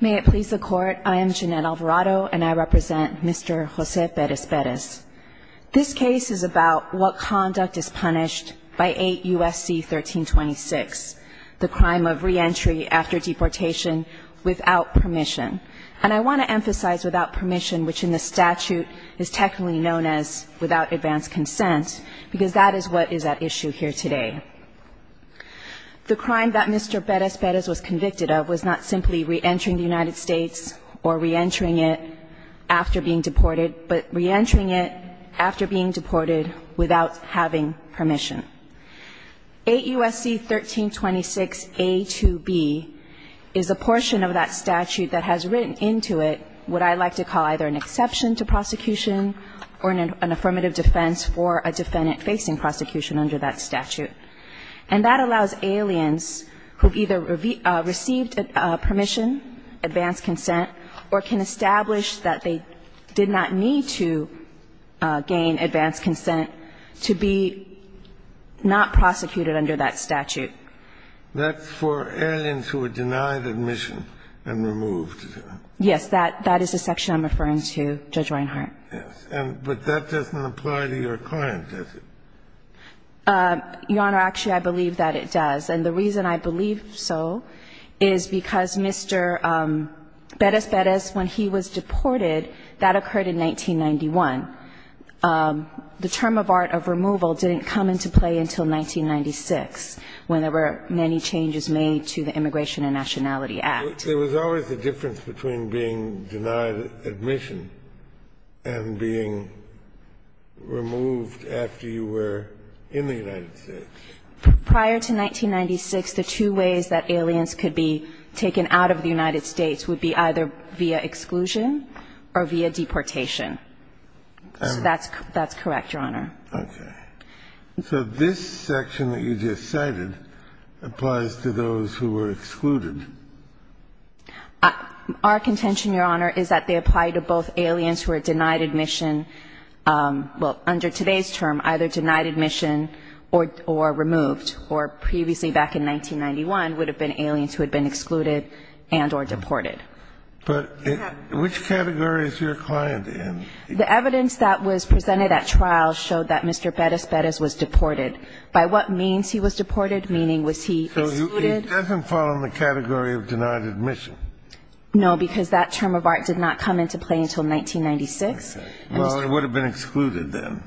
May it please the Court, I am Jeanette Alvarado and I represent Mr. Jose Peres-Peres. This case is about what conduct is punished by 8 U.S.C. 1326, the crime of reentry after deportation without permission. And I want to emphasize without permission, which in the statute is technically known as without advance consent, because that is what is at issue here today. The crime that Mr. Peres-Peres was convicted of was not simply reentering the United States or reentering it after being deported, but reentering it after being deported without having permission. 8 U.S.C. 1326a to b is a portion of that statute that has written into it what I like to call either an exception to prosecution or an affirmative defense for a defendant facing prosecution under that statute. And that allows aliens who either received permission, advance consent, or can establish that they did not need to gain advance consent to be not prosecuted under that statute. That's for aliens who were denied admission and removed. And that's what I'm referring to. that I'm referring to. Kennedy. Yes, that is the section I'm referring to, Judge Reinhart. Yes. But that doesn't apply to your client, does it? Your Honor, actually, I believe that it does. And the reason I believe so is because Mr. Peres-Peres, when he was deported, that occurred in 1991. The term of art of removal didn't come into play until 1996, when there were many changes made to the Immigration and Nationality Act. There was always a difference between being denied admission and being removed after you were in the United States. Prior to 1996, the two ways that aliens could be taken out of the United States would be either via exclusion or via deportation. So that's correct, Your Honor. Okay. So this section that you just cited applies to those who were excluded. Our contention, Your Honor, is that they apply to both aliens who are denied admission under today's term, either denied admission or removed, or previously back in 1991 would have been aliens who had been excluded and or deported. But which category is your client in? The evidence that was presented at trial showed that Mr. Peres-Peres was deported. By what means he was deported, meaning was he excluded? So he doesn't fall in the category of denied admission? No, because that term of art did not come into play until 1996. Okay. Well, it would have been excluded then.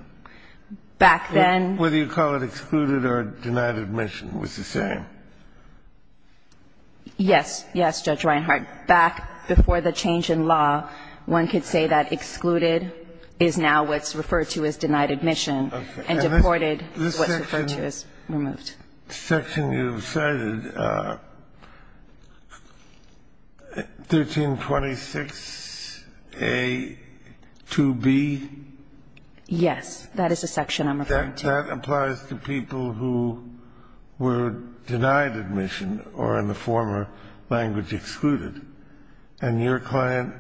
Back then. Whether you call it excluded or denied admission was the same. Yes. Yes, Judge Reinhardt. But back before the change in law, one could say that excluded is now what's referred to as denied admission, and deported is what's referred to as removed. This section you've cited, 1326a-2b? Yes. That is a section I'm referring to. But that applies to people who were denied admission or in the former language excluded. And your client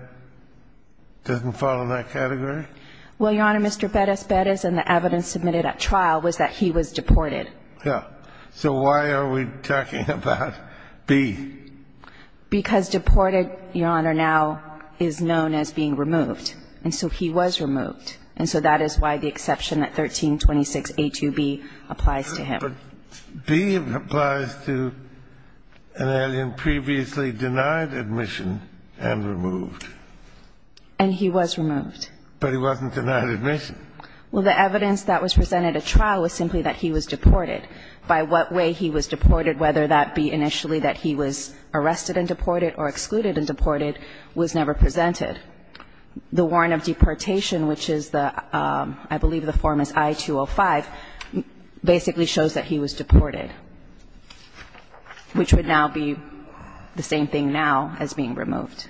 doesn't fall in that category? Well, Your Honor, Mr. Peres-Peres and the evidence submitted at trial was that he was deported. Yes. So why are we talking about b? Because deported, Your Honor, now is known as being removed. And so he was removed. And so that is why the exception at 1326a-2b applies to him. But b applies to an alien previously denied admission and removed. And he was removed. But he wasn't denied admission. Well, the evidence that was presented at trial was simply that he was deported. By what way he was deported, whether that be initially that he was arrested and deported or excluded and deported, was never presented. The warrant of deportation, which is the – I believe the form is I-205, basically shows that he was deported, which would now be the same thing now as being removed.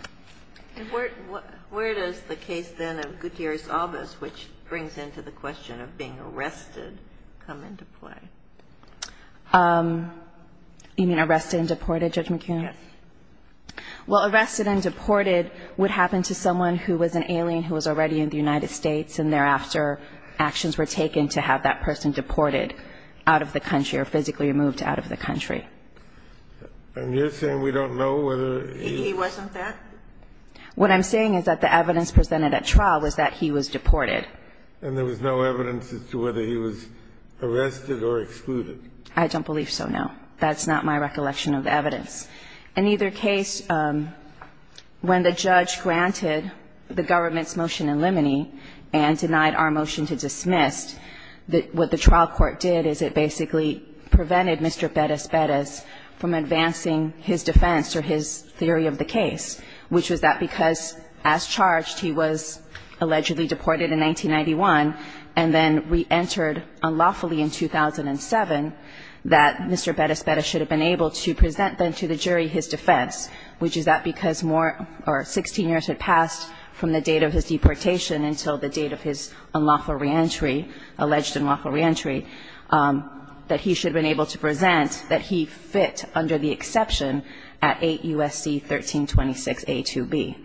And where does the case then of Gutierrez-Albas, which brings into the question of being arrested, come into play? You mean arrested and deported, Judge McKeon? Yes. Well, arrested and deported would happen to someone who was an alien who was already in the United States and thereafter actions were taken to have that person deported out of the country or physically removed out of the country. And you're saying we don't know whether he – He wasn't that? What I'm saying is that the evidence presented at trial was that he was deported. And there was no evidence as to whether he was arrested or excluded? I don't believe so, no. That's not my recollection of the evidence. In either case, when the judge granted the government's motion in limine and denied our motion to dismiss, what the trial court did is it basically prevented Mr. Betis-Betis from advancing his defense or his theory of the case, which was that because, as charged, he was allegedly deported in 1991 and then reentered unlawfully in 2007, that Mr. Betis-Betis should have been able to present then to the jury his defense, which is that because more – or 16 years had passed from the date of his deportation until the date of his unlawful reentry, alleged unlawful reentry, that he should have been able to present that he fit under the exception at 8 U.S.C. 1326a2b.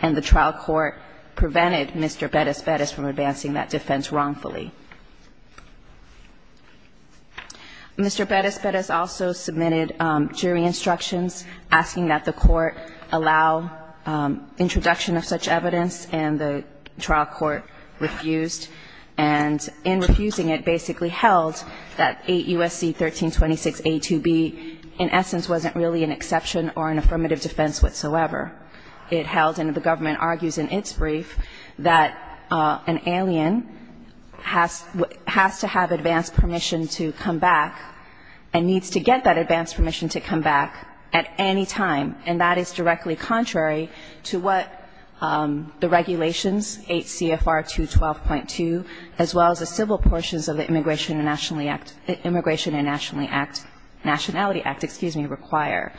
And the trial court prevented Mr. Betis-Betis from advancing that defense wrongfully. Mr. Betis-Betis also submitted jury instructions asking that the court allow introduction of such evidence, and the trial court refused. And in refusing it basically held that 8 U.S.C. 1326a2b in essence wasn't really an exception or an affirmative defense whatsoever. It held, and the government argues in its brief, that an alien has to have advanced permission to come back and needs to get that advanced permission to come back at any time, and that is directly contrary to what the regulations, 8 CFR 212.2, as well as the civil portions of the Immigration and Nationally Act – Nationality Act, excuse me, require.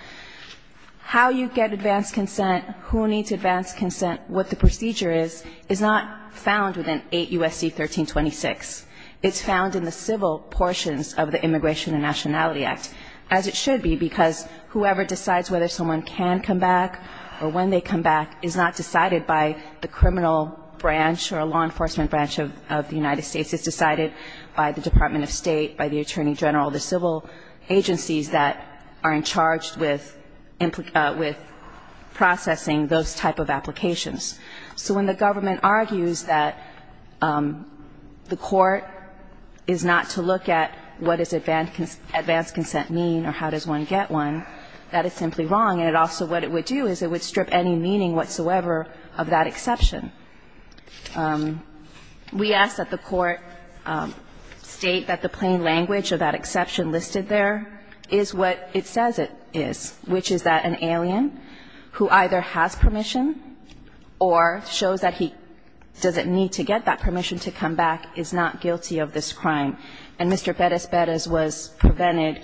How you get advanced consent, who needs advanced consent, what the procedure is, is not found within 8 U.S.C. 1326. It's found in the civil portions of the Immigration and Nationality Act, as it should be, because whoever decides whether someone can come back or when they come back is not decided by the criminal branch or law enforcement branch of the United States. It's decided by the Department of State, by the Attorney General, the civil agencies that are in charge with processing those type of applications. So when the government argues that the court is not to look at what does advanced consent mean or how does one get one, that is simply wrong. And also what it would do is it would strip any meaning whatsoever of that exception. We ask that the court state that the plain language of that exception listed there is what it says it is, which is that an alien who either has permission or shows that he doesn't need to get that permission to come back is not guilty of this crime. And Mr. Pettis-Bettis was prevented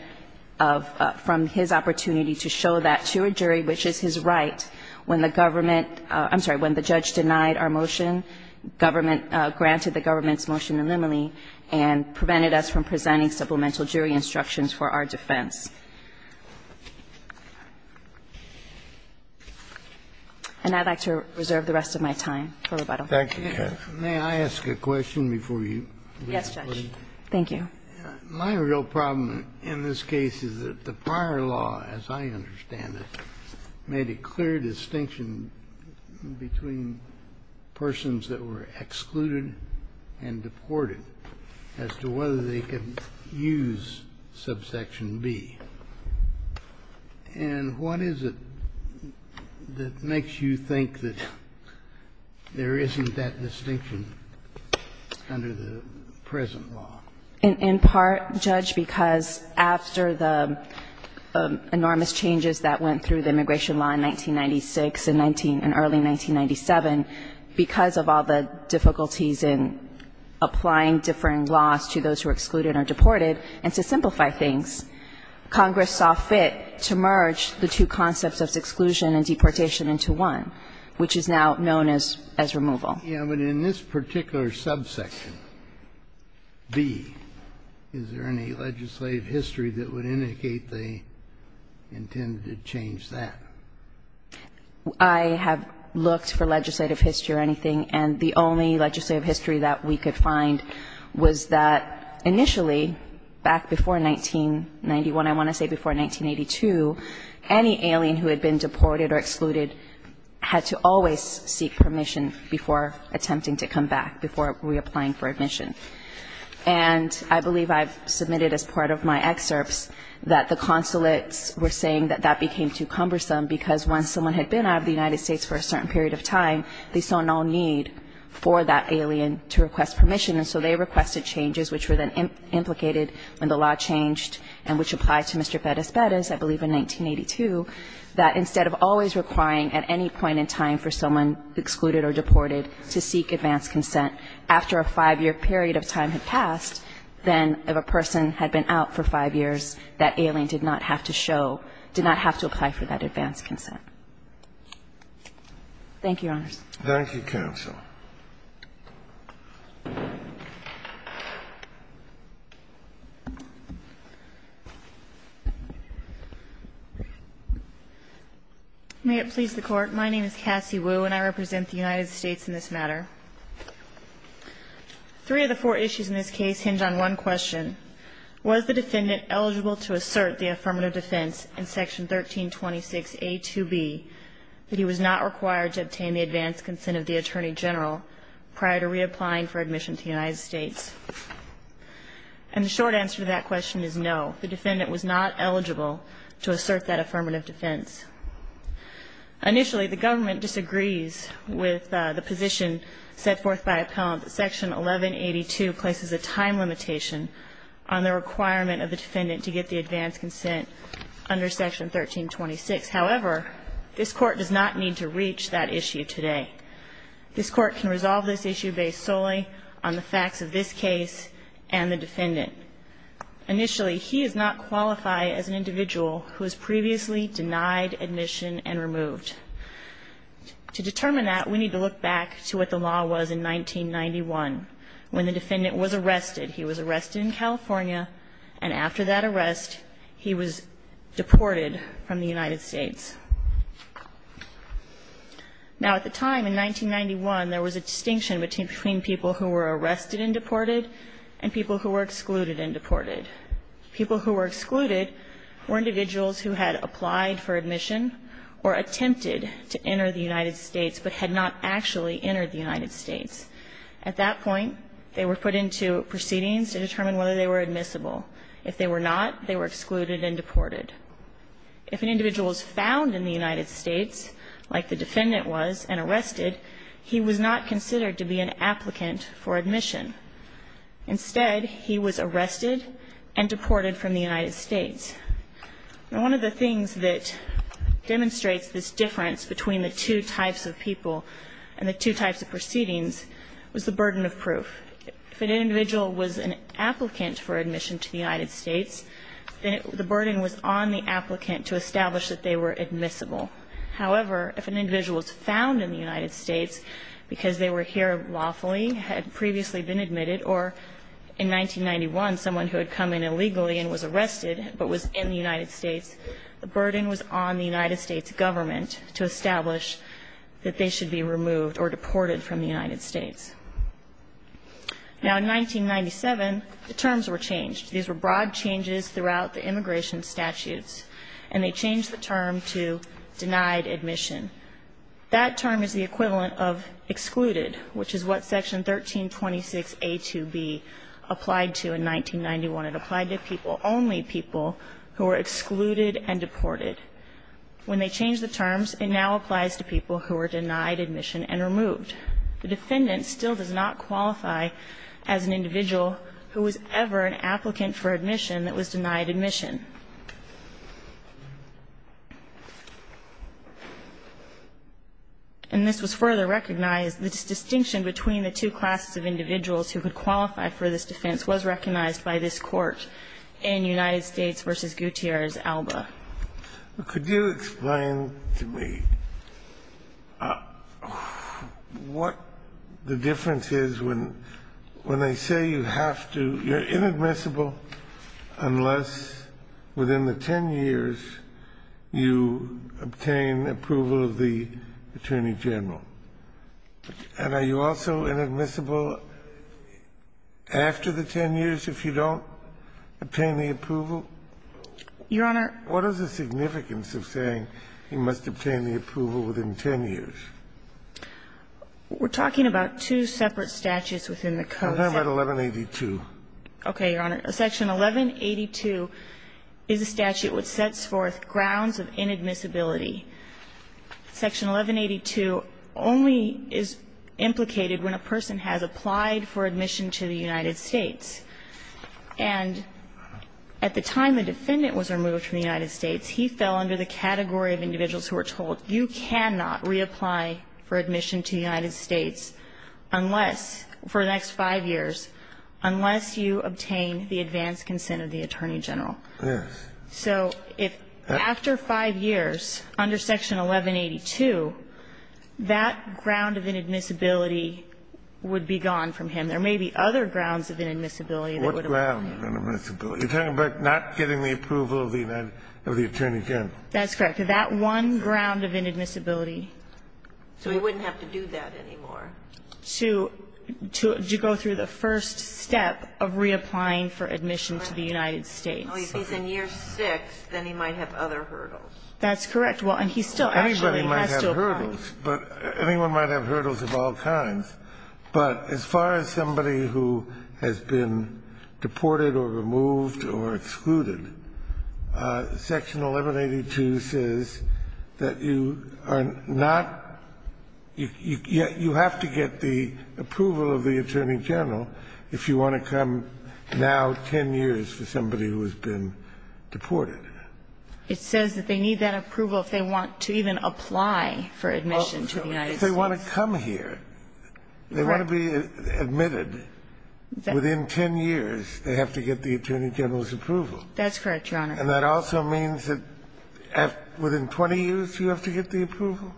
from his opportunity to show that to a jury, which is his right, when the government – I'm sorry, when the judge denied our motion, government – granted the government's motion the limine and prevented us from presenting supplemental jury instructions for our defense. And I'd like to reserve the rest of my time for rebuttal. Kennedy, may I ask a question before you? Yes, Judge. Thank you. My real problem in this case is that the prior law, as I understand it, made a clear distinction between persons that were excluded and deported as to whether they could use subsection B. And what is it that makes you think that there isn't that distinction under the present law? In part, Judge, because after the enormous changes that went through the immigration law in 1996 and early 1997, because of all the difficulties in applying different laws to those who are excluded or deported, and to simplify things, Congress saw fit to merge the two concepts of exclusion and deportation into one, which is now known as removal. Yes, but in this particular subsection, B, is there any legislative history that would indicate they intended to change that? I have looked for legislative history or anything, and the only legislative history that we could find was that initially, back before 1991, I want to say before 1982, any alien who had been deported or excluded had to always seek permission before attempting to come back, before reapplying for admission. And I believe I've submitted as part of my excerpts that the consulates were saying that that became too cumbersome, because once someone had been out of the United States for a certain period of time, they saw no need for that alien to request permission. And so they requested changes, which were then implicated when the law changed and which applied to Mr. Fetis-Fetis, I believe in 1982, that instead of always requiring at any point in time for someone excluded or deported to seek advanced consent, if that period of time had passed, then if a person had been out for five years, that alien did not have to show, did not have to apply for that advanced Thank you, Your Honors. Thank you, counsel. May it please the Court. My name is Cassie Wu, and I represent the United States in this matter. Three of the four issues in this case hinge on one question. Was the defendant eligible to assert the affirmative defense in Section 1326A2B that he was not required to obtain the advanced consent of the Attorney General prior to reapplying for admission to the United States? And the short answer to that question is no. The defendant was not eligible to assert that affirmative defense. Initially, the government disagrees with the position set forth by appellant that Section 1182 places a time limitation on the requirement of the defendant to get the advanced consent under Section 1326. However, this Court does not need to reach that issue today. This Court can resolve this issue based solely on the facts of this case and the defendant. Initially, he does not qualify as an individual who was previously denied admission and removed. To determine that, we need to look back to what the law was in 1991, when the defendant was arrested. He was arrested in California, and after that arrest, he was deported from the United States. Now, at the time, in 1991, there was a distinction between people who were arrested and deported and people who were excluded and deported. People who were excluded were individuals who had applied for admission or attempted to enter the United States but had not actually entered the United States. At that point, they were put into proceedings to determine whether they were admissible. If they were not, they were excluded and deported. If an individual was found in the United States, like the defendant was, and arrested, he was not considered to be an applicant for admission. Instead, he was arrested and deported from the United States. Now, one of the things that demonstrates this difference between the two types of people and the two types of proceedings was the burden of proof. If an individual was an applicant for admission to the United States, then the burden was on the applicant to establish that they were admissible. However, if an individual was found in the United States because they were here lawfully, had previously been admitted, or in 1991, someone who had come in illegally and was arrested but was in the United States, the burden was on the United States government to establish that they should be removed or deported from the United States. Now, in 1997, the terms were changed. These were broad changes throughout the immigration statutes, and they changed the term to denied admission. That term is the equivalent of excluded, which is what Section 1326a2b applied to in 1991. It applied to people, only people, who were excluded and deported. When they changed the terms, it now applies to people who were denied admission and removed. The defendant still does not qualify as an individual who was ever an applicant for admission that was denied admission. And this was further recognized. This distinction between the two classes of individuals who could qualify for this defense was recognized by this Court in United States v. Gutierrez-Alba. Could you explain to me what the difference is when they say you have to you're within the 10 years you obtain approval of the attorney general? And are you also inadmissible after the 10 years if you don't obtain the approval? Your Honor. What is the significance of saying you must obtain the approval within 10 years? We're talking about two separate statutes within the code. Okay, Your Honor. Section 1182 is a statute which sets forth grounds of inadmissibility. Section 1182 only is implicated when a person has applied for admission to the United States. And at the time the defendant was removed from the United States, he fell under the category of individuals who were told you cannot reapply for admission to the And that was the advance consent of the attorney general. Yes. So if after 5 years, under Section 1182, that ground of inadmissibility would be gone from him. There may be other grounds of inadmissibility that would apply to him. What grounds of inadmissibility? You're talking about not getting the approval of the attorney general. That's correct. That one ground of inadmissibility. So he wouldn't have to do that anymore. To go through the first step of reapplying for admission to the United States. Oh, if he's in year 6, then he might have other hurdles. That's correct. Well, and he still actually has to apply. Anybody might have hurdles. But anyone might have hurdles of all kinds. But as far as somebody who has been deported or removed or excluded, Section 1182 says that you are not you have to get the approval of the attorney general if you want to come now 10 years for somebody who has been deported. It says that they need that approval if they want to even apply for admission to the United States. If they want to come here, they want to be admitted. Within 10 years, they have to get the attorney general's approval. That's correct, Your Honor. And that also means that within 20 years, you have to get the approval?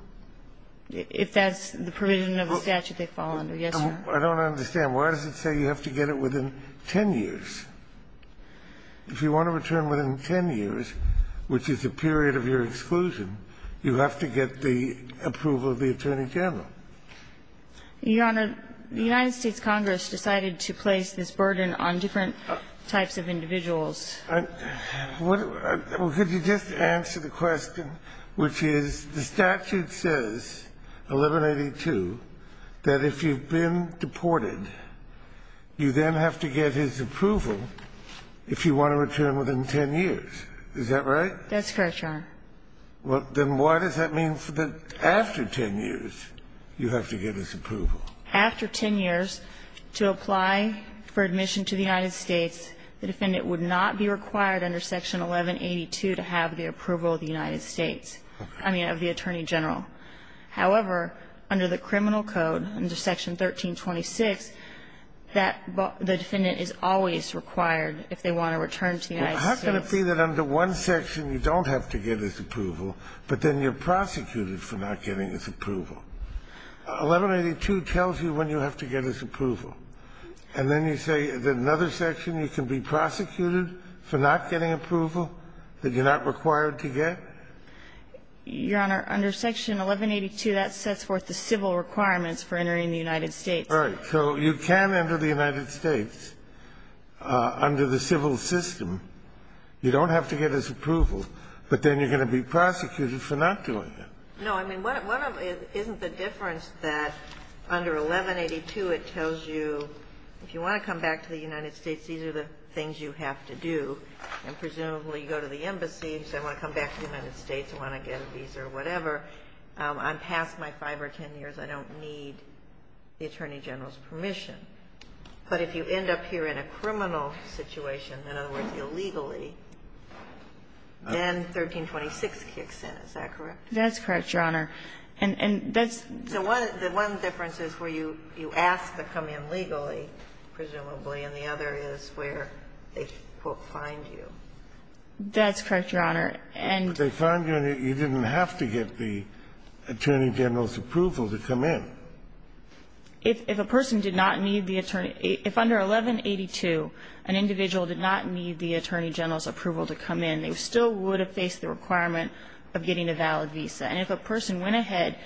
If that's the provision of the statute they fall under, yes, Your Honor. I don't understand. Why does it say you have to get it within 10 years? If you want to return within 10 years, which is the period of your exclusion, you have to get the approval of the attorney general. Your Honor, the United States Congress decided to place this burden on different types of individuals. Could you just answer the question, which is the statute says, 1182, that if you've been deported, you then have to get his approval if you want to return within 10 years. Is that right? That's correct, Your Honor. Then why does that mean that after 10 years, you have to get his approval? After 10 years, to apply for admission to the United States, the defendant would not be required under section 1182 to have the approval of the United States of the attorney general. However, under the criminal code, under section 1326, that the defendant is always required if they want to return to the United States. How can it be that under one section, you don't have to get his approval, but then you're prosecuted for not getting his approval? 1182 tells you when you have to get his approval, and then you say in another section, you can be prosecuted for not getting approval that you're not required to get? Your Honor, under section 1182, that sets forth the civil requirements for entering the United States. All right. So you can enter the United States under the civil system. You don't have to get his approval, but then you're going to be prosecuted for not doing it. No. I mean, one of them isn't the difference that under 1182, it tells you if you want to come back to the United States, these are the things you have to do. And presumably, you go to the embassy, you say I want to come back to the United States, I want to get a visa or whatever. I'm past my 5 or 10 years. I don't need the attorney general's permission. But if you end up here in a criminal situation, in other words, illegally, then 1326 kicks in. Is that correct? That's correct, Your Honor. And that's the one difference is where you ask to come in legally, presumably, and the other is where they, quote, find you. That's correct, Your Honor. But they find you and you didn't have to get the attorney general's approval to come in. If a person did not need the attorney – if under 1182, an individual did not need the attorney general's approval to come in, they still would have faced the requirement of getting a valid visa. And if a person went ahead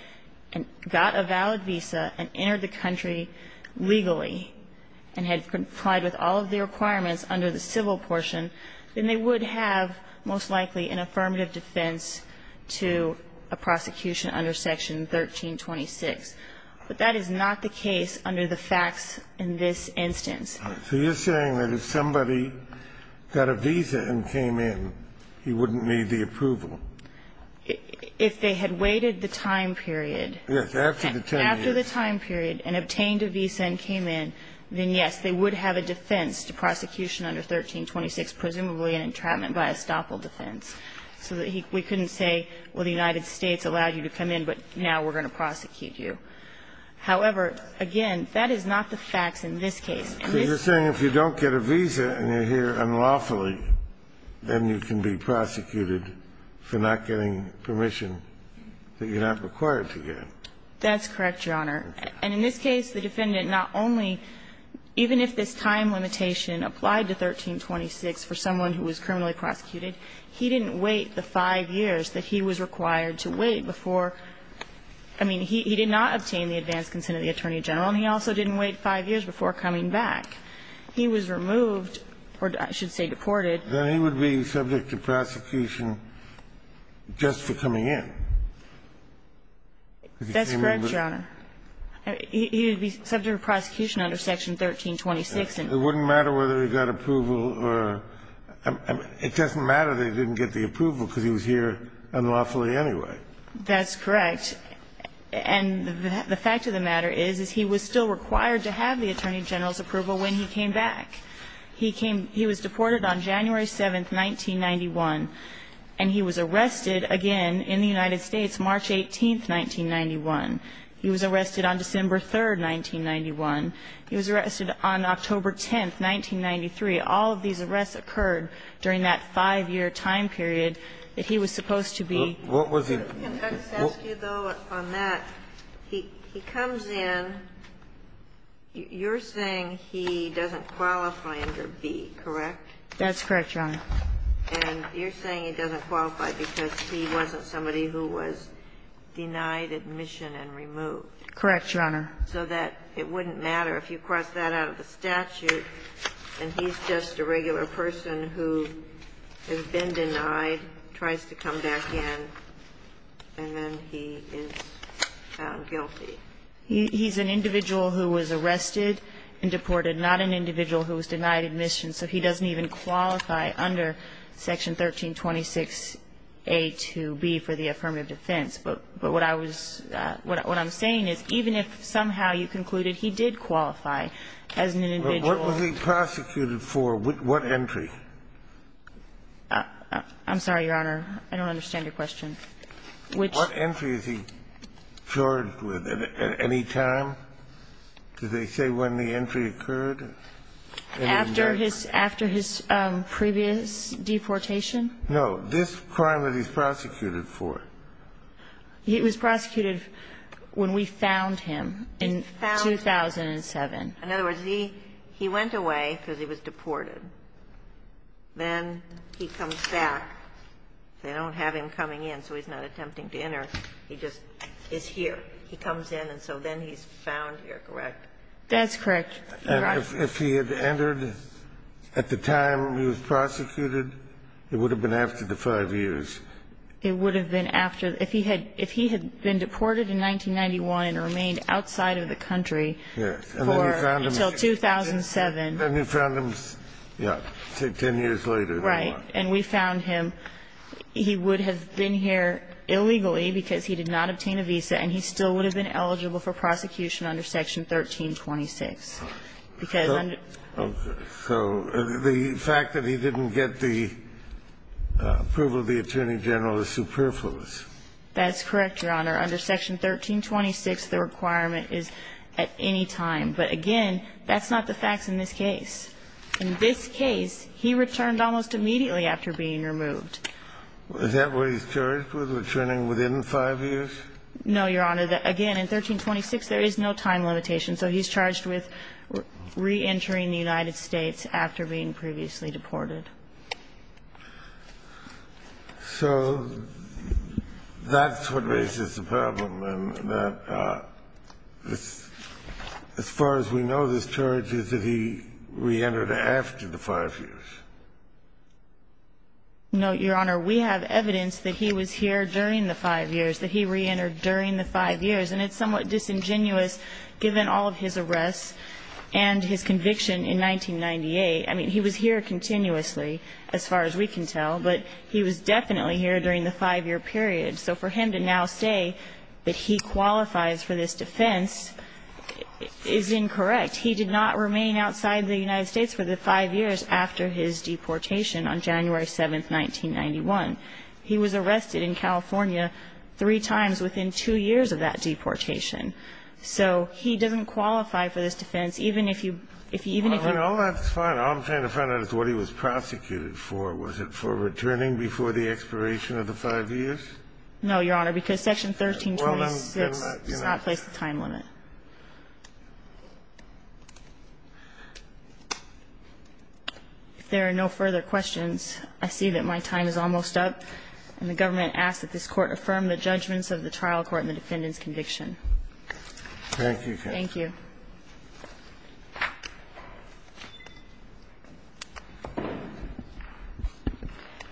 and got a valid visa and entered the country legally and had complied with all of the requirements under the civil portion, then they would have most likely an affirmative defense to a prosecution under Section 1326. But that is not the case under the facts in this instance. So you're saying that if somebody got a visa and came in, he wouldn't need the approval? If they had waited the time period – Yes, after the 10 years. After the time period and obtained a visa and came in, then, yes, they would have a defense to prosecution under 1326, presumably an entrapment by estoppel defense, so that we couldn't say, well, the United States allowed you to come in, but now we're going to prosecute you. However, again, that is not the facts in this case. So you're saying if you don't get a visa and you're here unlawfully, then you can be prosecuted for not getting permission that you're not required to get? That's correct, Your Honor. And in this case, the defendant not only – even if this time limitation applied to 1326 for someone who was criminally prosecuted, he didn't wait the 5 years that he was required to wait before – I mean, he did not obtain the advanced consent of the Attorney General, and he also didn't wait 5 years before coming back. He was removed – or I should say deported. Then he would be subject to prosecution just for coming in. That's correct, Your Honor. He would be subject to prosecution under Section 1326. It wouldn't matter whether he got approval or – it doesn't matter that he didn't get the approval because he was here unlawfully anyway. That's correct. And the fact of the matter is, is he was still required to have the Attorney General's approval when he came back. He came – he was deported on January 7th, 1991, and he was arrested again in the United States March 18th, 1991. He was arrested on December 3rd, 1991. He was arrested on October 10th, 1993. All of these arrests occurred during that 5-year time period that he was supposed to be – What was he – Can I just ask you, though, on that? He comes in. You're saying he doesn't qualify under B, correct? That's correct, Your Honor. And you're saying he doesn't qualify because he wasn't somebody who was denied admission and removed. Correct, Your Honor. So that it wouldn't matter if you cross that out of the statute and he's just a regular person who has been denied, tries to come back in, and then he is found guilty. He's an individual who was arrested and deported, not an individual who was denied admission, so he doesn't even qualify under Section 1326A to B for the affirmative defense. But what I was – what I'm saying is even if somehow you concluded he did qualify as an individual – But what was he prosecuted for? What entry? I'm sorry, Your Honor. I don't understand your question. Which – At any time? Did they say when the entry occurred? After his – after his previous deportation? No. This crime that he's prosecuted for. He was prosecuted when we found him in 2007. In other words, he went away because he was deported. Then he comes back. They don't have him coming in, so he's not attempting to enter. He just is here. He comes in, and so then he's found here, correct? That's correct. And if he had entered at the time he was prosecuted, it would have been after the 5 years. It would have been after – if he had – if he had been deported in 1991 and remained outside of the country for – until 2007. Then we found him, yeah, say 10 years later. Right. And we found him. He would have been here illegally because he did not obtain a visa, and he still would have been eligible for prosecution under Section 1326. Because under – So the fact that he didn't get the approval of the Attorney General is superfluous. That's correct, Your Honor. Under Section 1326, the requirement is at any time. But again, that's not the facts in this case. In this case, he returned almost immediately after being removed. Is that what he's charged with, returning within 5 years? No, Your Honor. Again, in 1326, there is no time limitation. So he's charged with reentering the United States after being previously deported. So that's what raises the problem, in that this – as far as we know, this charge is that he reentered after the 5 years. No, Your Honor. We have evidence that he was here during the 5 years, that he reentered during the 5 years. And it's somewhat disingenuous, given all of his arrests and his conviction in 1998. I mean, he was here continuously, as far as we can tell. But he was definitely here during the 5-year period. So for him to now say that he qualifies for this defense is incorrect. He did not remain outside the United States for the 5 years after his detention. He did not remain outside the United States for the 5 years after his deportation on January 7, 1991. He was arrested in California three times within 2 years of that deportation. So he doesn't qualify for this defense, even if you – even if you – All that's fine. All I'm trying to find out is what he was prosecuted for. Was it for returning before the expiration of the 5 years? No, Your Honor. Because Section 1326 does not place a time limit. If there are no further questions, I see that my time is almost up. And the government asks that this Court affirm the judgments of the trial court and the defendant's conviction. Thank you. Thank you.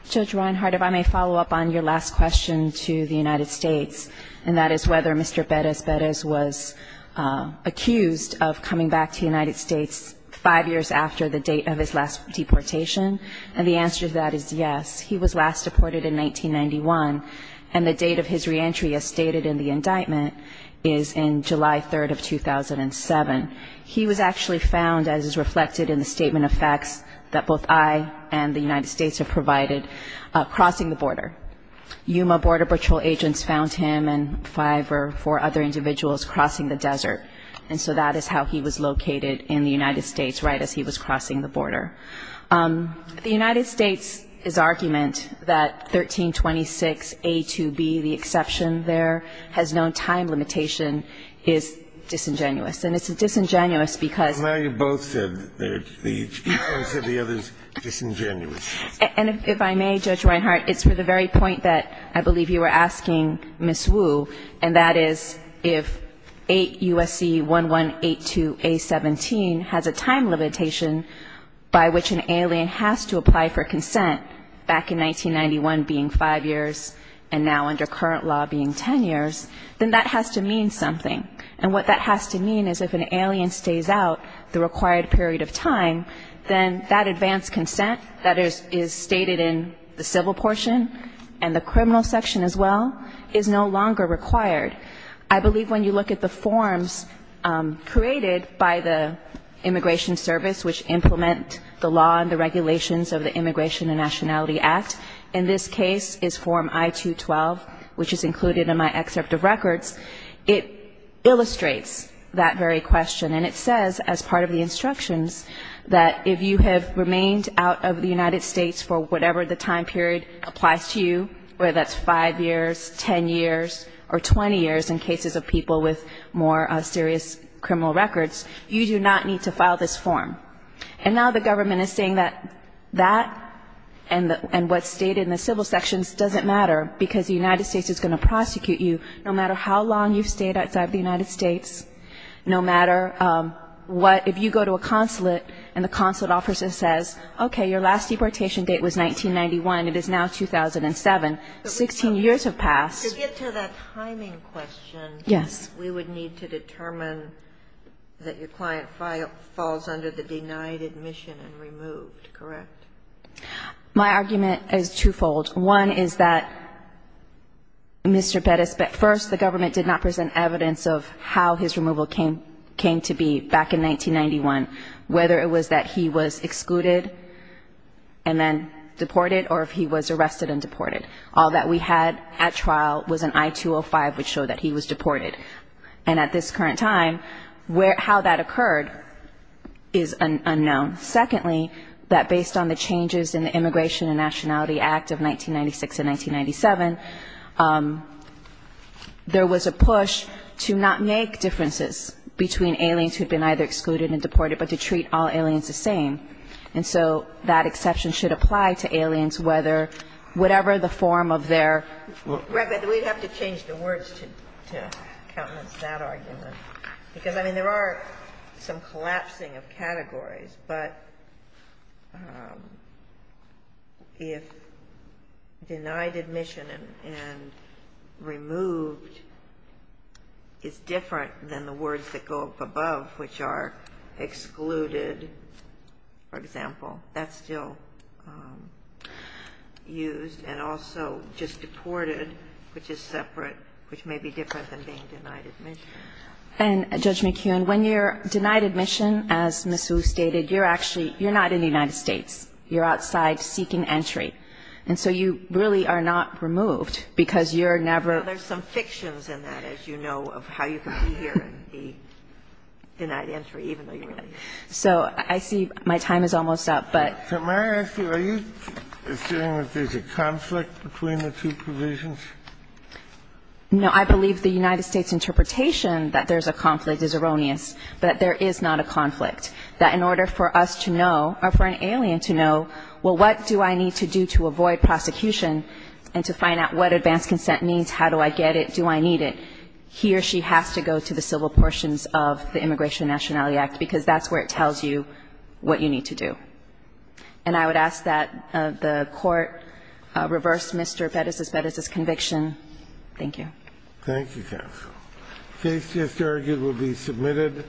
Judge Reinhardt, if I may follow up on your last question to the United States, and that is whether Mr. Pérez Pérez was convicted or not. He was accused of coming back to the United States 5 years after the date of his last deportation. And the answer to that is yes. He was last deported in 1991. And the date of his reentry, as stated in the indictment, is in July 3, 2007. He was actually found, as is reflected in the statement of facts, that both I and the United States have provided, crossing the border. Yuma Border Patrol agents found him and 5 or 4 other individuals crossing the desert. And so that is how he was located in the United States right as he was crossing the border. The United States' argument that 1326A to B, the exception there, has no time limitation is disingenuous. And it's disingenuous because Well, now you both said the other is disingenuous. And if I may, Judge Reinhardt, it's for the very point that I believe you were asking Ms. Wu, and that is if 8 U.S.C. 1182A17 has a time limitation by which an alien has to apply for consent back in 1991 being 5 years and now under current law being 10 years, then that has to mean something. And what that has to mean is if an alien stays out the required period of time, then that advanced consent that is stated in the civil portion and the criminal section as well is no longer required. I believe when you look at the forms created by the Immigration Service which implement the law and the regulations of the Immigration and Nationality Act, in this case is Form I-212, which is included in my excerpt of records, it illustrates that very question. And it says as part of the instructions that if you have remained out of the United States for whatever the time period applies to you, whether that's 5 years, 10 years, or 20 years in cases of people with more serious criminal records, you do not need to file this form. And now the government is saying that that and what's stated in the civil sections doesn't matter because the United States is going to prosecute you no matter how long you've stayed outside of the United States, no matter what, if you go to a consulate and the consulate officer says, okay, your last deportation date was 1991. It is now 2007. 16 years have passed. To get to that timing question, we would need to determine that your client falls under the denied admission and removed, correct? My argument is twofold. One is that Mr. Pettis, at first the government did not present evidence of how his removal came to be back in 1991, whether it was that he was excluded and then deported or if he was arrested and deported. All that we had at trial was an I-205 which showed that he was deported. And at this current time, how that occurred is unknown. Secondly, that based on the changes in the Immigration and Nationality Act of 1996 and 1997, there was a push to not make differences between aliens who had been either excluded and deported, but to treat all aliens the same. And so that exception should apply to aliens whether whatever the form of their We'd have to change the words to countenance that argument. Because, I mean, there are some collapsing of categories, but if denied admission and removed is different than the words that go up above which are excluded for example, that's still used. And also just deported which is separate, which may be different than being denied admission. And Judge McKeown, when you're denied admission as Ms. Wu stated, you're not in the United States. You're outside seeking entry. And so you really are not removed because you're never There's some fictions in that, as you know of how you can be here and be denied entry even though you're not. So I see my time is almost up, but So may I ask you, are you assuming that there's a conflict between the two provisions? No, I believe the United States interpretation that there's a conflict is erroneous, but there is not a conflict. That in order for us to know, or for an alien to know, well what do I need to do to avoid prosecution and to find out what advanced consent means how do I get it, do I need it? He or she has to go to the civil portions of the Immigration and Nationality Act because that's where it tells you what you need to do. And I would ask that the Court reverse Mr. Pettis' conviction. Thank you. Thank you, counsel. Case just argued will be submitted